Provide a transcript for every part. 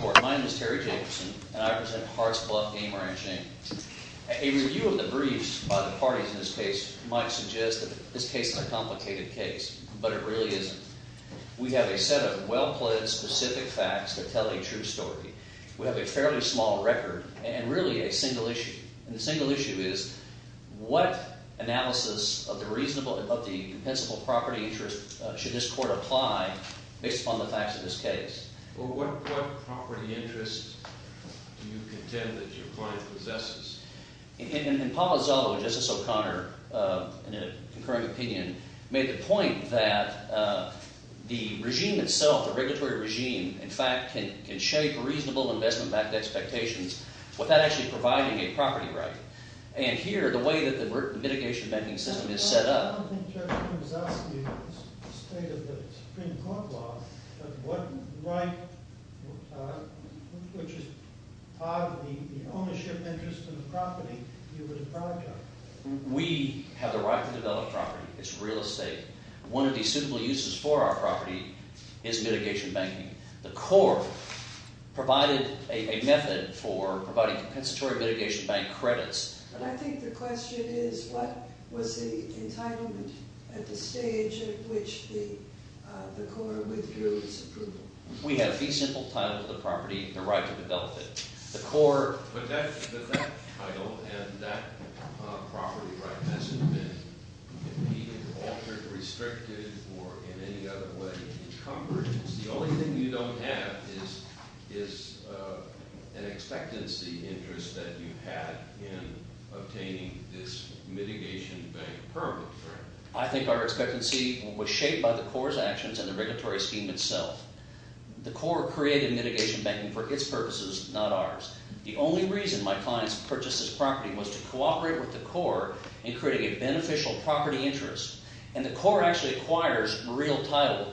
Court. My name is Terry Jacobson, and I represent HEARTS BLUFF GAME RANCH. A review of the briefs by the parties in this case might suggest that this case is a complicated case, but it really isn't. We have a set of well-pledged, specific facts that tell a true story. We have a fairly small record, and really a single issue. And the single issue is, what analysis of the reasonable, of the compensable property interest should this court apply based upon the facts of this case? Well, what property interest do you contend that your client possesses? And Paolo Zello, Justice O'Connor, in a concurring opinion, made the point that the regime itself, the regulatory regime, in fact, can shape reasonable investment-backed expectations without actually providing a property right. And here, the way that the mitigation banking system is set up... Well, I don't think Terry Jacobson is asking you about the state of the Supreme Court law, but what right, which is part of the ownership interest in the property, you would approach on? We have the right to develop property. It's real estate. One of the suitable uses for our property is mitigation banking. The court provided a method for providing compensatory mitigation bank credits. But I think the question is, what was the entitlement at the stage at which the court withdrew its approval? We have the simple title of the property, the right to develop it. The court put that title, and that property right hasn't been altered, restricted, or in any other way encumbered. The only thing you don't have is an expectancy interest that you had in obtaining this mitigation bank permit. I think our expectancy was shaped by the court's actions and the regulatory scheme itself. The court created mitigation banking for its purposes, not ours. The only reason my clients purchased this property was to cooperate with the court in creating a beneficial property interest. And the court actually acquires real title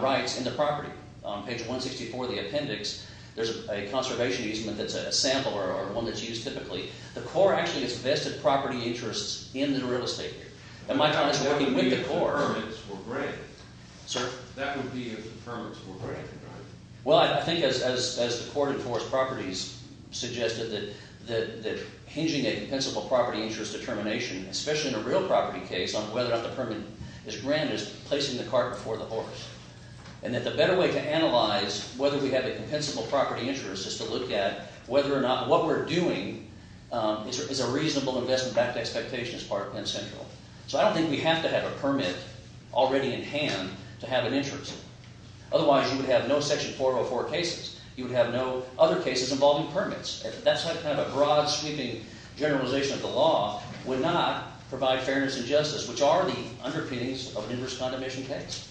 rights in the property. On page 164 of the appendix, there's a conservation easement that's a sample or one that's used typically. The court actually gets vested property interests in the real estate. And my client is working with the court. That would be if the permits were granted, right? Well, I think as the court enforced properties suggested, that hinging a principal property interest determination, especially in a real property case on whether or not the permit is granted, is placing the cart before the horse. And that the better way to analyze whether we have a compensable property interest is to look at whether or not what we're doing is a reasonable investment back to expectation as part of Penn Central. So I don't think we have to have a permit already in hand to have an interest. Otherwise, you would have no Section 404 cases. You would have no other cases involving permits. That's kind of a broad-sweeping generalization of the law, would not provide fairness and justice, which are the underpinnings of an inverse condemnation case.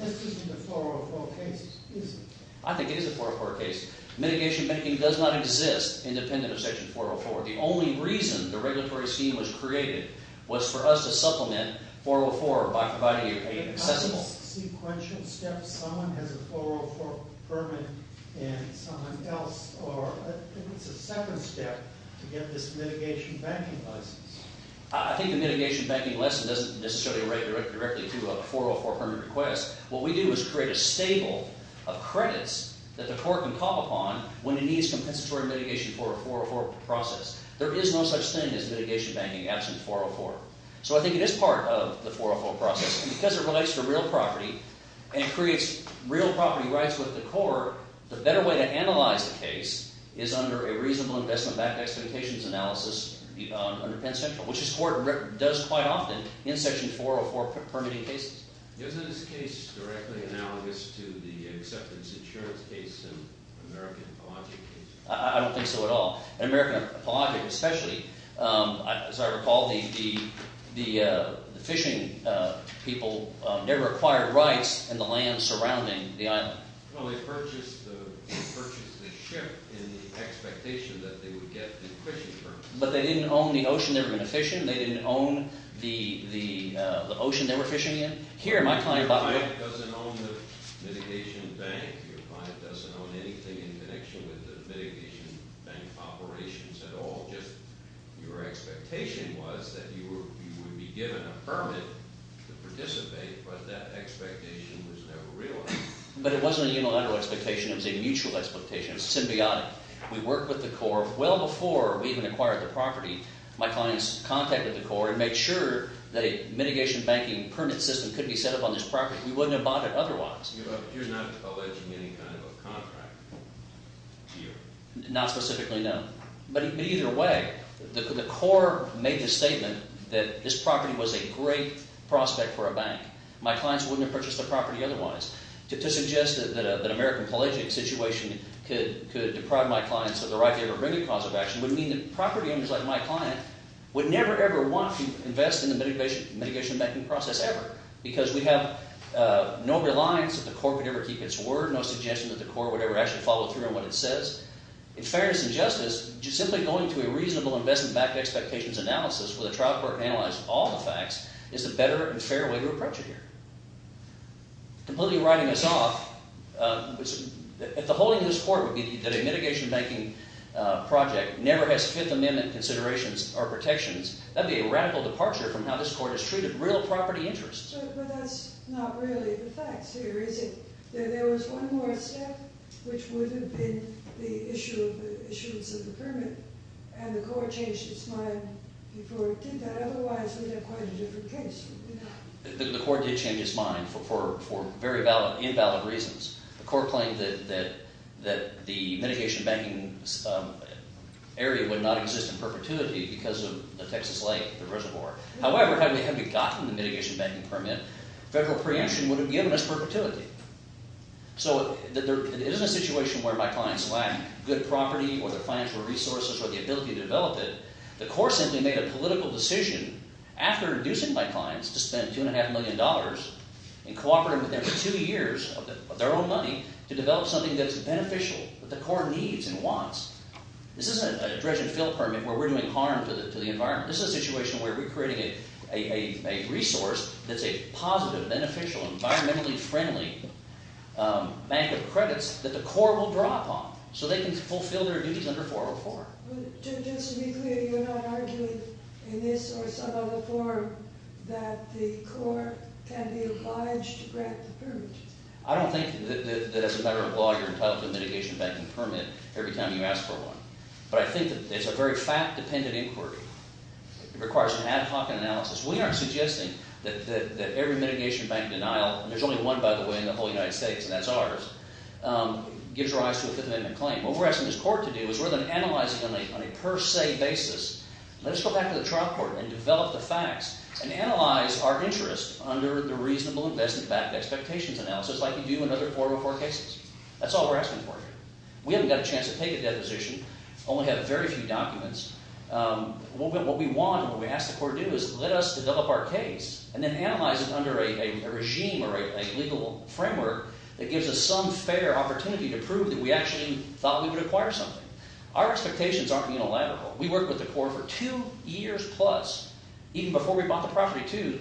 This isn't a 404 case, is it? I think it is a 404 case. Mitigation banking does not exist independent of Section 404. The only reason the regulatory scheme was created was for us to supplement 404 by providing an accessible... If someone has a 404 permit and someone else... I think it's a second step to get this mitigation banking license. I think the mitigation banking license doesn't necessarily relate directly to a 404 permit request. What we do is create a stable of credits that the court can call upon when it needs compensatory mitigation for a 404 process. There is no such thing as mitigation banking absent 404. So I think it is part of the 404 process. Because it relates to real property and creates real property rights with the court, the better way to analyze the case is under a reasonable investment-backed expectations analysis under Penn Central, which this court does quite often in Section 404 permitting cases. Isn't this case directly analogous to the acceptance insurance case and American Apologetic case? I don't think so at all. In American Apologetic especially, as I recall, the fishing people never acquired rights in the land surrounding the island. Well, they purchased the ship in the expectation that they would get the fishing permit. But they didn't own the ocean they were going to fish in? They didn't own the ocean they were fishing in? Your client doesn't own the mitigation bank. Your client doesn't own anything in connection with the mitigation bank operations at all. Just your expectation was that you would be given a permit to participate, but that expectation was never realized. But it wasn't a unilateral expectation. It was a mutual expectation. It was symbiotic. We worked with the court well before we even acquired the property. My clients contacted the court and made sure that a mitigation banking permit system could be set up on this property. We wouldn't have bought it otherwise. But you're not alleging any kind of a contract to you? Not specifically, no. But either way, the court made the statement that this property was a great prospect for a bank. My clients wouldn't have purchased the property otherwise. To suggest that an American Apologetic situation could deprive my clients of the right to ever bring a cause of action would mean that property owners like my client would never, ever want to invest in the mitigation banking process ever. Because we have no reliance that the court would ever keep its word, no suggestion that the court would ever actually follow through on what it says. In fairness and justice, just simply going to a reasonable investment-backed expectations analysis where the trial court can analyze all the facts is the better and fairer way to approach it here. Completely writing this off, if the holding of this court would be that a mitigation banking project never has Fifth Amendment considerations or protections, that would be a radical departure from how this court has treated real property interests. But that's not really the facts here, is it? There was one more step, which would have been the issuance of the permit, and the court changed its mind before it did that. Otherwise, we'd have quite a different case. The court did change its mind for very invalid reasons. The court claimed that the mitigation banking area would not exist in perpetuity because of the Texas lake, the reservoir. However, had we gotten the mitigation banking permit, federal preemption would have given us perpetuity. So it isn't a situation where my clients lack good property or their financial resources or the ability to develop it. The court simply made a political decision after inducing my clients to spend $2.5 million and cooperating with them for two years of their own money to develop something that's beneficial, that the court needs and wants. This isn't a dredge and fill permit where we're doing harm to the environment. This is a situation where we're creating a resource that's a positive, beneficial, environmentally friendly bank of credits that the court will draw upon so they can fulfill their duties under 404. But just to be clear, you're not arguing in this or some other form that the court can be obliged to grant the permit? I don't think that as a matter of law, you're entitled to a mitigation banking permit every time you ask for one. But I think that it's a very fact-dependent inquiry. It requires an ad hoc analysis. We aren't suggesting that every mitigation banking denial, and there's only one, by the way, in the whole United States, and that's ours, gives rise to a Fifth Amendment claim. What we're asking this court to do is rather than analyzing on a per se basis, let us go back to the trial court and develop the facts and analyze our interest under the reasonable investment expectations analysis like you do in other 404 cases. That's all we're asking for here. We haven't got a chance to take a deposition, only have very few documents. What we want and what we ask the court to do is let us develop our case and then analyze it under a regime or a legal framework that gives us some fair opportunity to prove that we actually thought we would acquire something. Our expectations aren't unilateral. We worked with the court for two years plus, even before we bought the property, too,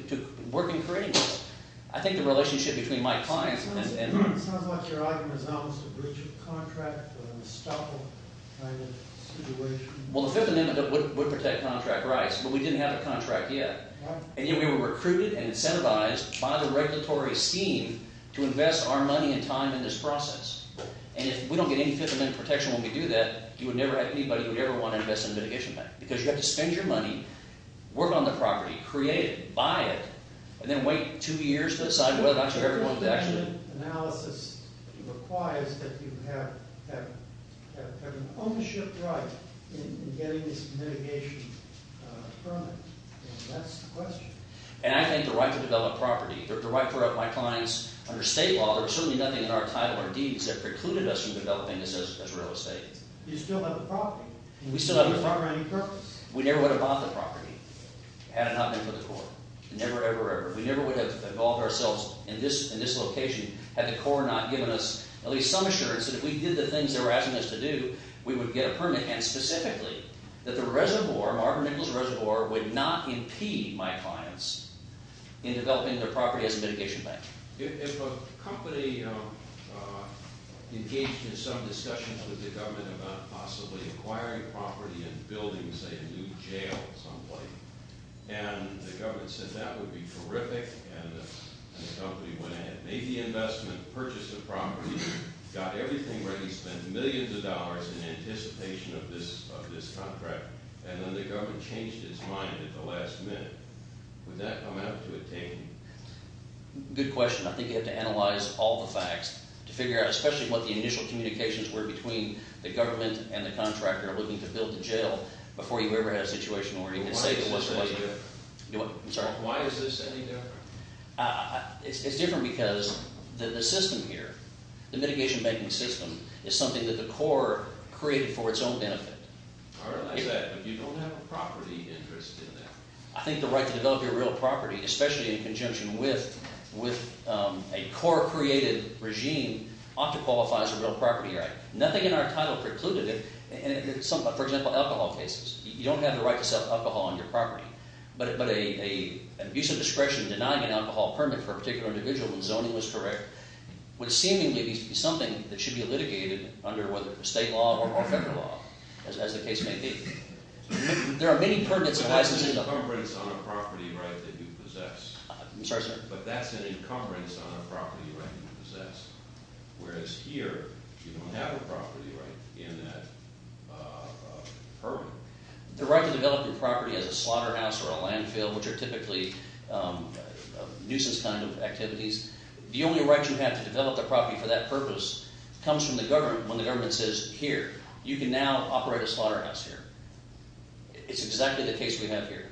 working for anyone. I think the relationship between my clients and… It sounds like your argument is almost a breach of contract, a stuffle kind of situation. Well, the Fifth Amendment would protect contract rights, but we didn't have a contract yet. Right. And yet we were recruited and incentivized by the regulatory scheme to invest our money and time in this process. And if we don't get any Fifth Amendment protection when we do that, you would never have anybody who would ever want to invest in a mitigation bank because you have to spend your money, work on the property, create it, buy it, and then wait two years to decide whether or not this requires that you have an ownership right in getting this mitigation permit. That's the question. And I think the right to develop property, the right for my clients under state law, there was certainly nothing in our title or deeds that precluded us from developing this as real estate. You still have the property. We still have the property. It's already in purpose. We never would have bought the property had it not been for the court. Never, ever, ever. We never would have involved ourselves in this location had the court not given us at least some assurance that if we did the things they were asking us to do, we would get a permit. And specifically, that the reservoir, Marvin Nichols Reservoir, would not impede my clients in developing their property as a mitigation bank. If a company engaged in some discussion with the government about possibly acquiring property and building, say, a new jail someplace, and the government said that would be terrific, and the company went ahead, made the investment, purchased the property, got everything ready, spent millions of dollars in anticipation of this contract, and then the government changed its mind at the last minute, would that amount to a taking? Good question. I think you have to analyze all the facts to figure out, especially what the initial Why is this any different? It's different because the system here, the mitigation banking system, is something that the core created for its own benefit. I realize that, but you don't have a property interest in that. I think the right to develop your real property, especially in conjunction with a core-created regime, ought to qualify as a real property right. Nothing in our title precluded it. For example, alcohol cases. You don't have the right to sell alcohol on your property. But an abuse of discretion denying an alcohol permit for a particular individual when zoning was correct would seemingly be something that should be litigated under whether state law or federal law, as the case may be. There are many permits and licenses. But that's an encumbrance on a property right that you possess. I'm sorry, sir? But that's an encumbrance on a property right that you possess. Whereas here, you don't have a property right in that permit. The right to develop your property as a slaughterhouse or a landfill, which are typically a nuisance kind of activities, the only right you have to develop the property for that purpose comes from the government when the government says, Here, you can now operate a slaughterhouse here. It's exactly the case we have here.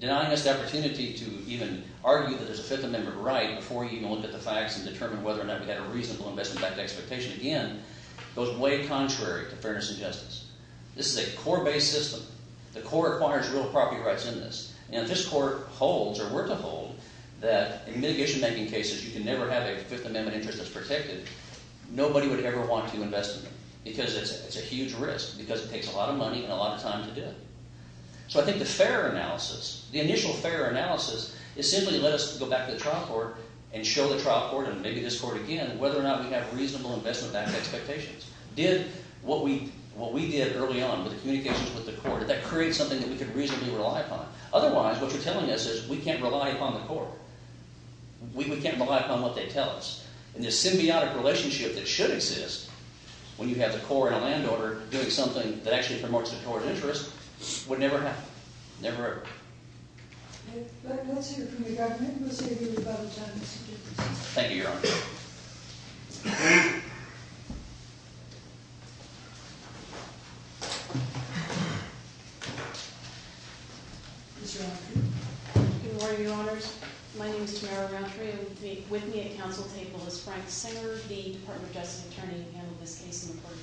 Denying us the opportunity to even argue that there's a Fifth Amendment right before you even look at the facts and determine whether or not we had a reasonable investment back to expectation again goes way contrary to fairness and justice. This is a core-based system. The court requires real property rights in this, and if this court holds or were to hold that in mitigation-making cases you can never have a Fifth Amendment interest that's protected, nobody would ever want to invest in them because it's a huge risk because it takes a lot of money and a lot of time to do it. So I think the fair analysis, the initial fair analysis is simply let us go back to the trial court and show the trial court and maybe this court again whether or not we have reasonable investment back to expectations. Did what we did early on with the communications with the court, did that create something that we could reasonably rely upon? Otherwise, what you're telling us is we can't rely upon the court. We can't rely upon what they tell us. And this symbiotic relationship that should exist when you have the court in a land order doing something that actually promotes the court's interest would never happen, never ever. Let's hear from the government. Let's hear from the government. Thank you, Your Honor. Good morning, Your Honors. My name is Tamara Mountrey. With me at the council table is Frank Singer, the Department of Justice attorney who handled this case in the court of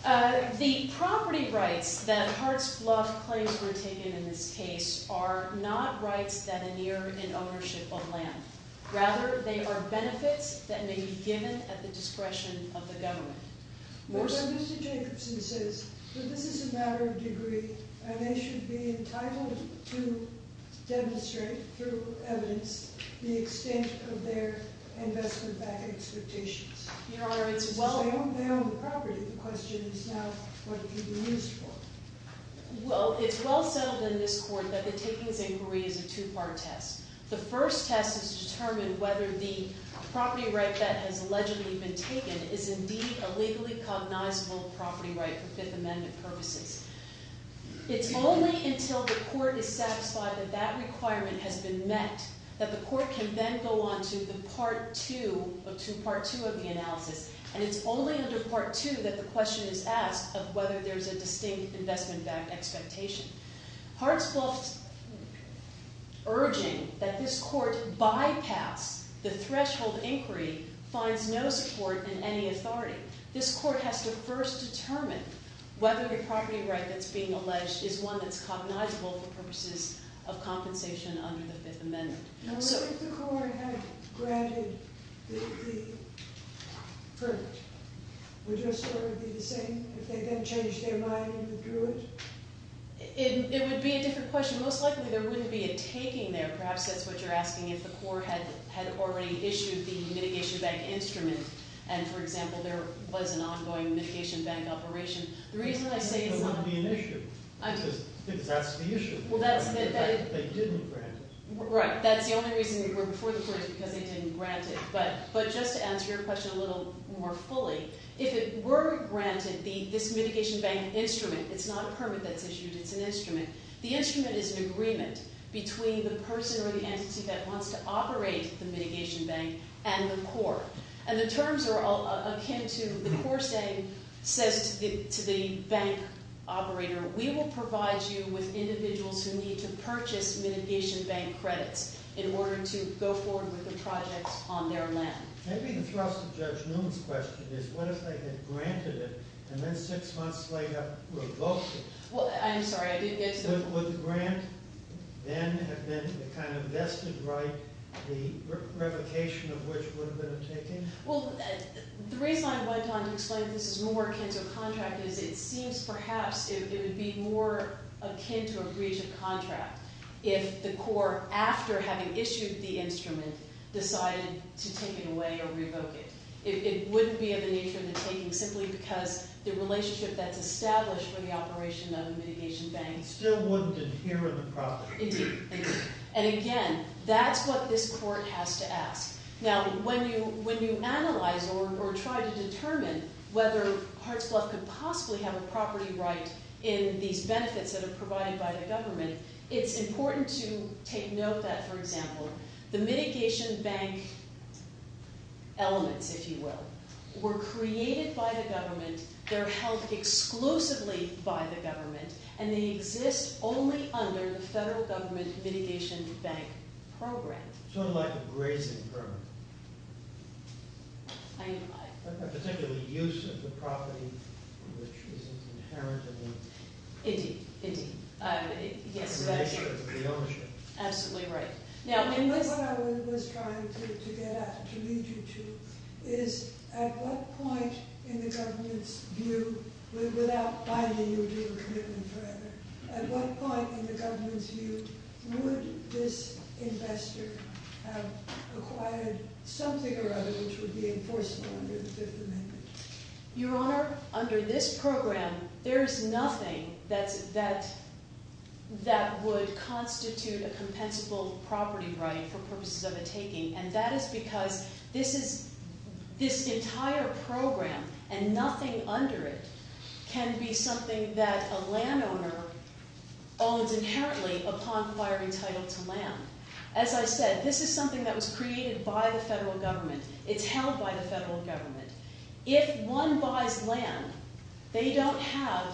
federal claims. The property rights that Hart's Bluff claims were taken in this case are not rights that are near in ownership of land. Rather, they are benefits that may be given at the discretion of the government. Mr. Jacobson says that this is a matter of degree and they should be entitled to demonstrate through evidence the extent of their investment back expectations. Your Honor, it's well- They own the property. The question is now what could be used for? Well, it's well settled in this court that the takings inquiry is a two-part test. The first test is to determine whether the property right that has allegedly been taken is indeed a legally cognizable property right for Fifth Amendment purposes. It's only until the court is satisfied that that requirement has been met that the court can then go on to the part two of the analysis. And it's only under part two that the question is asked of whether there's a distinct investment back expectation. Hart's Bluff's urging that this court bypass the threshold inquiry finds no support in any authority. This court has to first determine whether the property right that's being alleged is one that's cognizable for purposes of compensation under the Fifth Amendment. If the court had granted the permit, would it be the same if they then changed their mind and withdrew it? It would be a different question. Most likely there wouldn't be a taking there. Perhaps that's what you're asking if the court had already issued the mitigation back instrument. And, for example, there was an ongoing mitigation bank operation. The reason I say it's not... It wouldn't be an issue. I do. Because that's the issue. Well, that's... They didn't grant it. Right. That's the only reason we were before the court is because they didn't grant it. But just to answer your question a little more fully, if it were granted, this mitigation bank instrument, it's not a permit that's issued, it's an instrument. The instrument is an agreement between the person or the entity that wants to operate the mitigation bank and the court. And the terms are all akin to... The court's aim says to the bank operator, we will provide you with individuals who need to purchase mitigation bank credits in order to go forward with the projects on their land. Maybe the thrust of Judge Newman's question is what if they had granted it and then six months later revoked it? Well, I'm sorry. I didn't get to the point. Would the grant then have been the kind of vested right, the revocation of which would have been a taking? Well, the reason I went on to explain that this is more akin to a contract is it seems perhaps it would be more akin to a breach of contract if the court, after having issued the instrument, decided to take it away or revoke it. It wouldn't be of the nature of the taking simply because the relationship that's established for the operation of the mitigation bank... It still wouldn't adhere to the property. Indeed. Indeed. And again, that's what this court has to ask. Now, when you analyze or try to determine whether Hartsbluff could possibly have a property right in these benefits that are provided by the government, it's important to take note that, for example, the mitigation bank elements, if you will, were created by the government, they're held exclusively by the government, and they exist only under the federal government mitigation bank program. Sort of like a grazing permit. I... A particular use of the property which is an inherent in the... Indeed. Indeed. Yes, that is true. The ownership. Absolutely right. What I was trying to get at, to lead you to, is at what point in the government's view, without binding you to a commitment forever, at what point in the government's view would this investor have acquired something or other which would be enforceable under the Fifth Amendment? Your Honor, under this program, there is nothing that would constitute a compensable property right for purposes of a taking, and that is because this entire program and nothing under it can be something that a landowner owns inherently upon acquiring title to land. As I said, this is something that was created by the federal government. It's held by the federal government. If one buys land, they don't have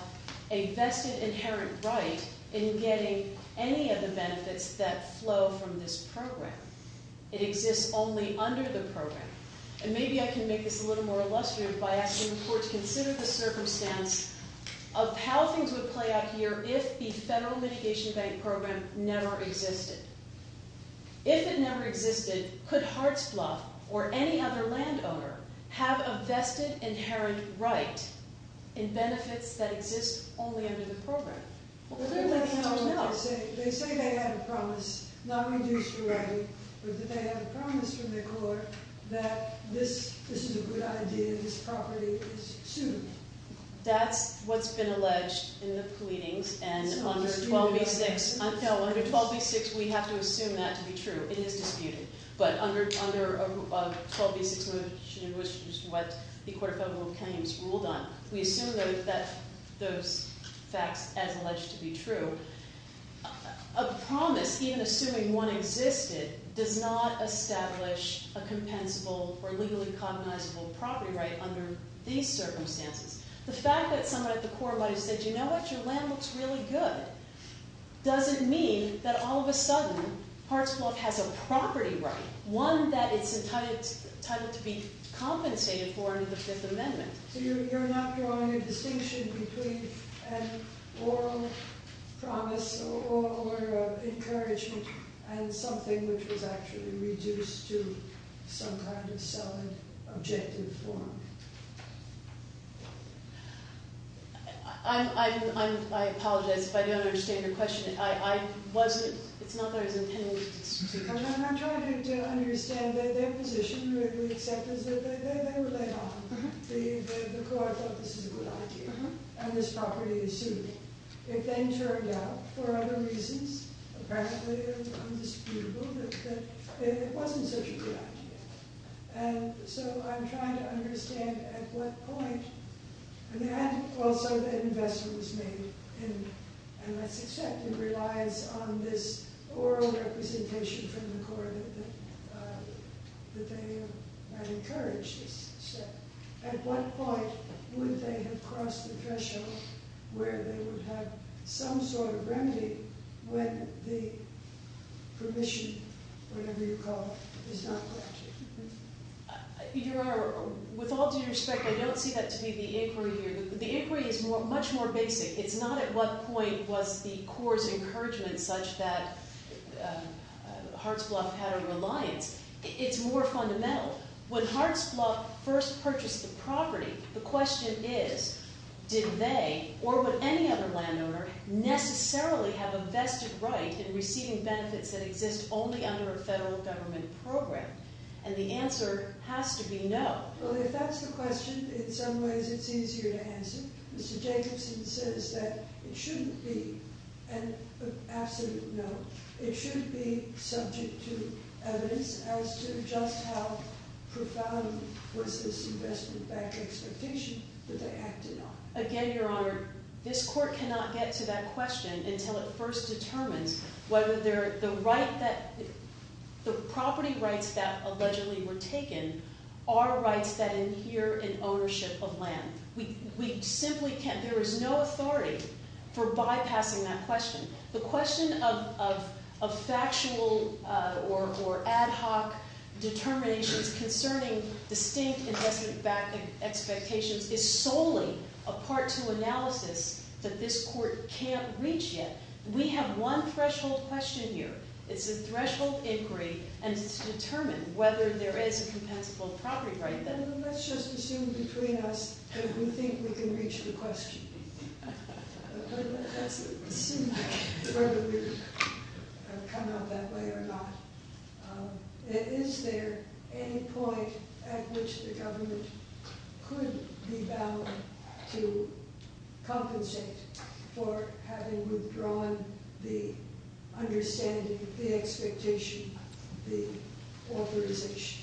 a vested inherent right in getting any of the benefits that flow from this program. It exists only under the program. And maybe I can make this a little more illustrative by asking the court to consider the circumstance of how things would play out here if the federal mitigation bank program never existed. If it never existed, could Hart's Bluff or any other landowner have a vested inherent right in benefits that exist only under the program? They say they have a promise, not reduced to writing, but that they have a promise from the court that this is a good idea, this property is suitable. That's what's been alleged in the pleadings, and under 12b-6, we have to assume that to be true. It is disputed. But under 12b-6, which is what the Court of Federal Claims ruled on, we assume that those facts as alleged to be true. A promise, even assuming one existed, does not establish a compensable or legally cognizable property right under these circumstances. The fact that somebody at the court might have said, you know what, your land looks really good, doesn't mean that all of a sudden Hart's Bluff has a property right, one that it's entitled to be compensated for under the Fifth Amendment. So you're not drawing a distinction between an oral promise or encouragement and something which was actually reduced to some kind of solid, objective form. I apologize if I don't understand your question. I wasn't, it's not that I was intending to dispute your question. I'm trying to understand their position. We accept that they were laid off. The court thought this was a good idea, and this property is suitable. It then turned out, for other reasons, apparently undisputable, that it wasn't such a good idea. And so I'm trying to understand at what point, and also that investment was made, and let's expect it relies on this oral representation from the court that they might encourage this. At what point would they have crossed the threshold where they would have some sort of remedy when the permission, whatever you call it, is not granted? Your Honor, with all due respect, I don't see that to be the inquiry here. The inquiry is much more basic. It's not at what point was the court's encouragement such that Hart's Bluff had a reliance. It's more fundamental. When Hart's Bluff first purchased the property, the question is, did they, or would any other landowner, necessarily have a vested right in receiving benefits that exist only under a federal government program? And the answer has to be no. Well, if that's the question, in some ways it's easier to answer. Mr. Jacobson says that it shouldn't be an absolute no. It should be subject to evidence as to just how profound was this investment bank expectation that they acted on. Again, Your Honor, this court cannot get to that question until it first determines whether the property rights that allegedly were taken are rights that adhere in ownership of land. We simply can't. There is no authority for bypassing that question. The question of factual or ad hoc determinations concerning distinct investment bank expectations is solely a part two analysis that this court can't reach yet. We have one threshold question here. It's a threshold inquiry, and it's to determine whether there is a compensable property right there. Let's just assume between us that we think we can reach the question. Let's assume whether we've come out that way or not. Is there any point at which the government could be bound to compensate for having withdrawn the understanding, the expectation, the authorization?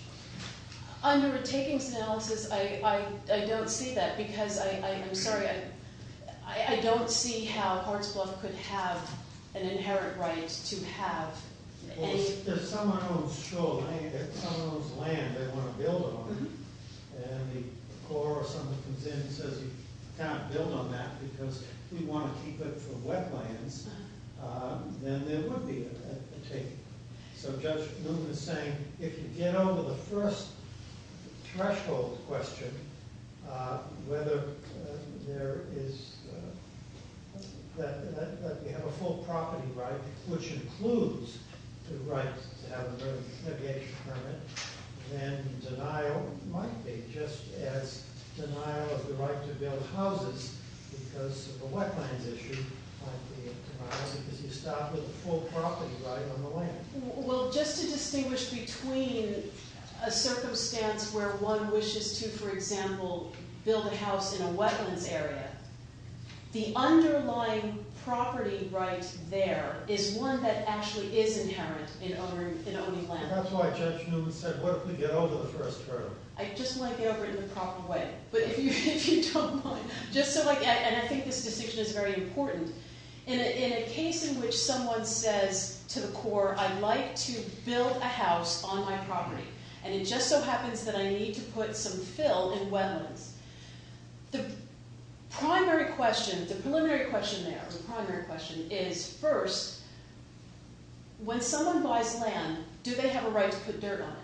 Under a takings analysis, I don't see that, because I'm sorry. I don't see how Hartsbluff could have an inherent right to have any— Well, if someone owns shoal, right? If someone owns land they want to build on, and the Corps or someone comes in and says you can't build on that because we want to keep it for wetlands, then there would be a taking. So Judge Newman is saying if you get over the first threshold question, whether there is—that we have a full property right, which includes the right to have a mergers and negations permit, then denial might be just as denial of the right to build houses because of the wetlands issue might be a denial because you start with a full property right on the land. Well, just to distinguish between a circumstance where one wishes to, for example, build a house in a wetlands area, the underlying property right there is one that actually is inherent in owning land. That's why Judge Newman said what if we get over the first threshold? I just want to get over it in the proper way. But if you don't mind, just so—and I think this decision is very important. In a case in which someone says to the Corps, I'd like to build a house on my property, and it just so happens that I need to put some fill in wetlands, the primary question, the preliminary question there, the primary question is first, when someone buys land, do they have a right to put dirt on it?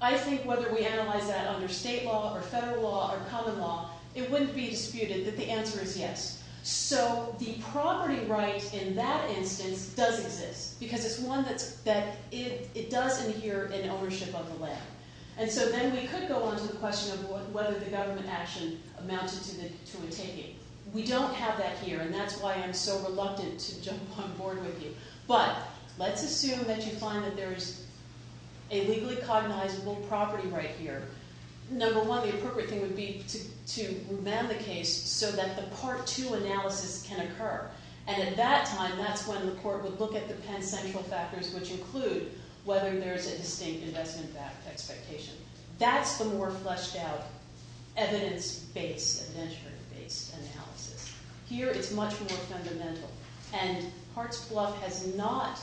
I think whether we analyze that under state law or federal law or common law, it wouldn't be disputed that the answer is yes. So the property right in that instance does exist because it's one that it does adhere in ownership of the land. And so then we could go on to the question of whether the government action amounted to a taking. We don't have that here, and that's why I'm so reluctant to jump on board with you. But let's assume that you find that there is a legally cognizable property right here. Number one, the appropriate thing would be to revamp the case so that the part two analysis can occur. And at that time, that's when the court would look at the pen central factors, which include whether there's a distinct investment expectation. That's the more fleshed out evidence-based, adventure-based analysis. Here it's much more fundamental. And Hart's bluff has not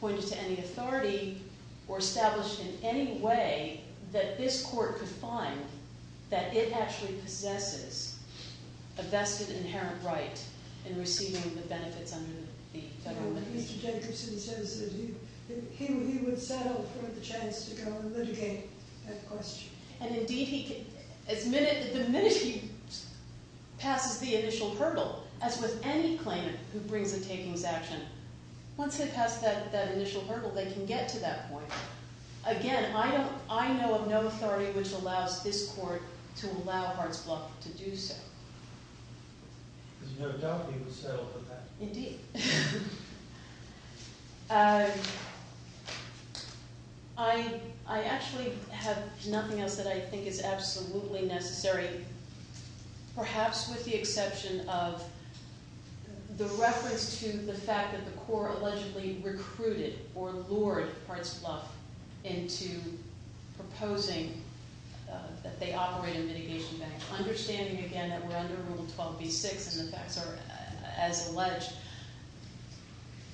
pointed to any authority or established in any way that this court could find that it actually possesses a vested inherent right in receiving the benefits under the federal money. Mr. Jacobson says that he would settle for the chance to go and litigate that question. And indeed, the minute he passes the initial hurdle, as with any claimant who brings a takings action, once they pass that initial hurdle, they can get to that point. Again, I know of no authority which allows this court to allow Hart's bluff to do so. There's no doubt he would settle for that. Indeed. I actually have nothing else that I think is absolutely necessary, perhaps with the exception of the reference to the fact that the court allegedly recruited or lured Hart's bluff into proposing that they operate a mitigation bank. Understanding, again, that we're under Rule 12b-6 and the facts are as alleged,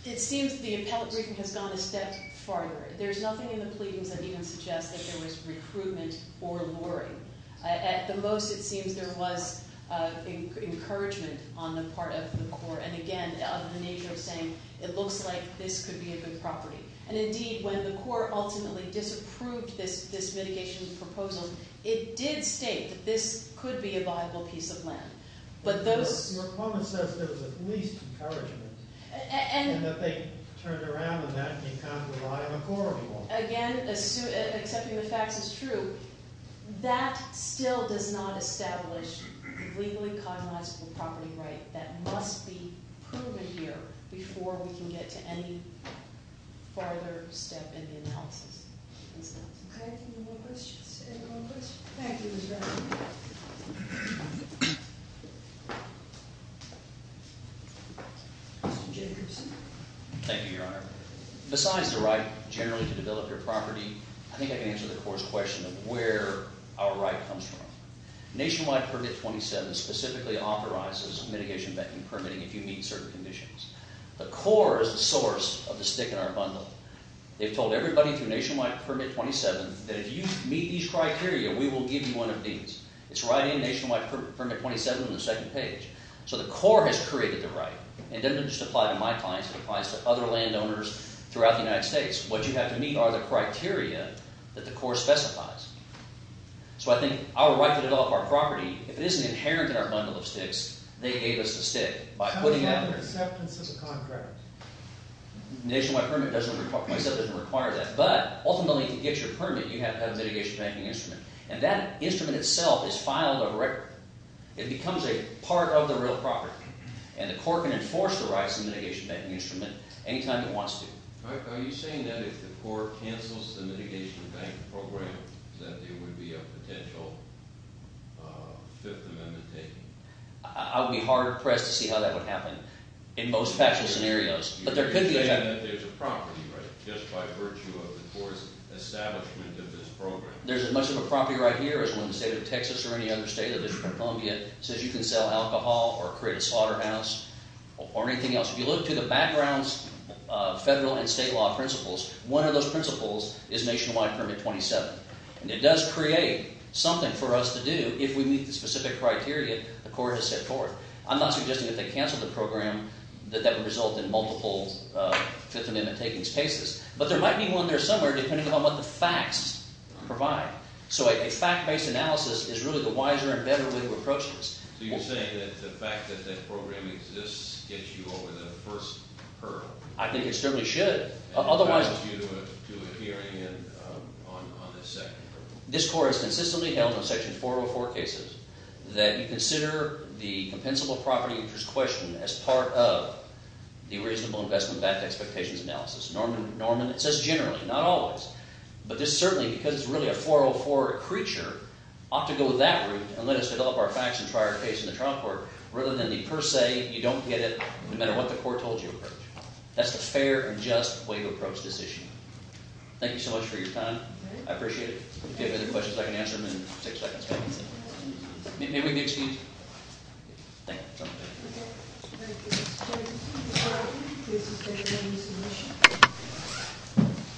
it seems the appellate briefing has gone a step farther. There's nothing in the pleadings that even suggests that there was recruitment or luring. At the most, it seems there was encouragement on the part of the court and, again, of the nature of saying it looks like this could be a good property. And indeed, when the court ultimately disapproved this mitigation proposal, it did state that this could be a viable piece of land. But those... Your opponent says there was at least encouragement. And... And that they turned around and that became kind of a viable corridor. Again, accepting the facts is true. That still does not establish the legally cognizable property right. That must be proven here before we can get to any farther step in the analysis. Okay. Any more questions? Any more questions? Thank you, Mr. Hamilton. Mr. Jacobson. Thank you, Your Honor. Besides the right generally to develop your property, I think I can answer the court's question of where our right comes from. Nationwide Permit 27 specifically authorizes mitigation and permitting if you meet certain conditions. The court is the source of the stick in our bundle. They've told everybody through Nationwide Permit 27 that if you meet these criteria, we will give you one of these. It's right in Nationwide Permit 27 on the second page. So the court has created the right. It doesn't just apply to my clients. It applies to other landowners throughout the United States. What you have to meet are the criteria that the court specifies. So I think our right to develop our property, if it isn't inherent in our bundle of sticks, they gave us the stick by putting it out there. What about the acceptance of the contract? Nationwide Permit 27 doesn't require that, but ultimately to get your permit, you have to have a mitigation banking instrument. And that instrument itself is filed over record. It becomes a part of the real property. And the court can enforce the rights of the mitigation banking instrument any time it wants to. Are you saying that if the court cancels the mitigation banking program that there would be a potential Fifth Amendment taken? I would be hard-pressed to see how that would happen in most factual scenarios, but there could be a… You're saying that there's a property right just by virtue of the court's establishment of this program. There's as much of a property right here as one in the state of Texas or any other state that is in Columbia. It says you can sell alcohol or create a slaughterhouse or anything else. If you look to the background's federal and state law principles, one of those principles is Nationwide Permit 27. And it does create something for us to do if we meet the specific criteria the court has set forth. I'm not suggesting that they cancel the program, that that would result in multiple Fifth Amendment takings cases. But there might be one there somewhere depending upon what the facts provide. So a fact-based analysis is really the wiser and better way to approach this. So you're saying that the fact that that program exists gets you over the first hurdle? I think it certainly should. Otherwise… And it guides you to a hearing on the second hurdle. This court has consistently held in Section 404 cases that you consider the compensable property interest question as part of the reasonable investment backed expectations analysis. Norman, it says generally, not always. But this certainly, because it's really a 404 creature, ought to go that route and let us develop our facts and try our case in the trial court rather than the per se, you don't get it no matter what the court told you. That's the fair and just way to approach this issue. Thank you so much for your time. I appreciate it. If you have any questions, I can answer them in six seconds. May we be excused? Thank you. Thank you.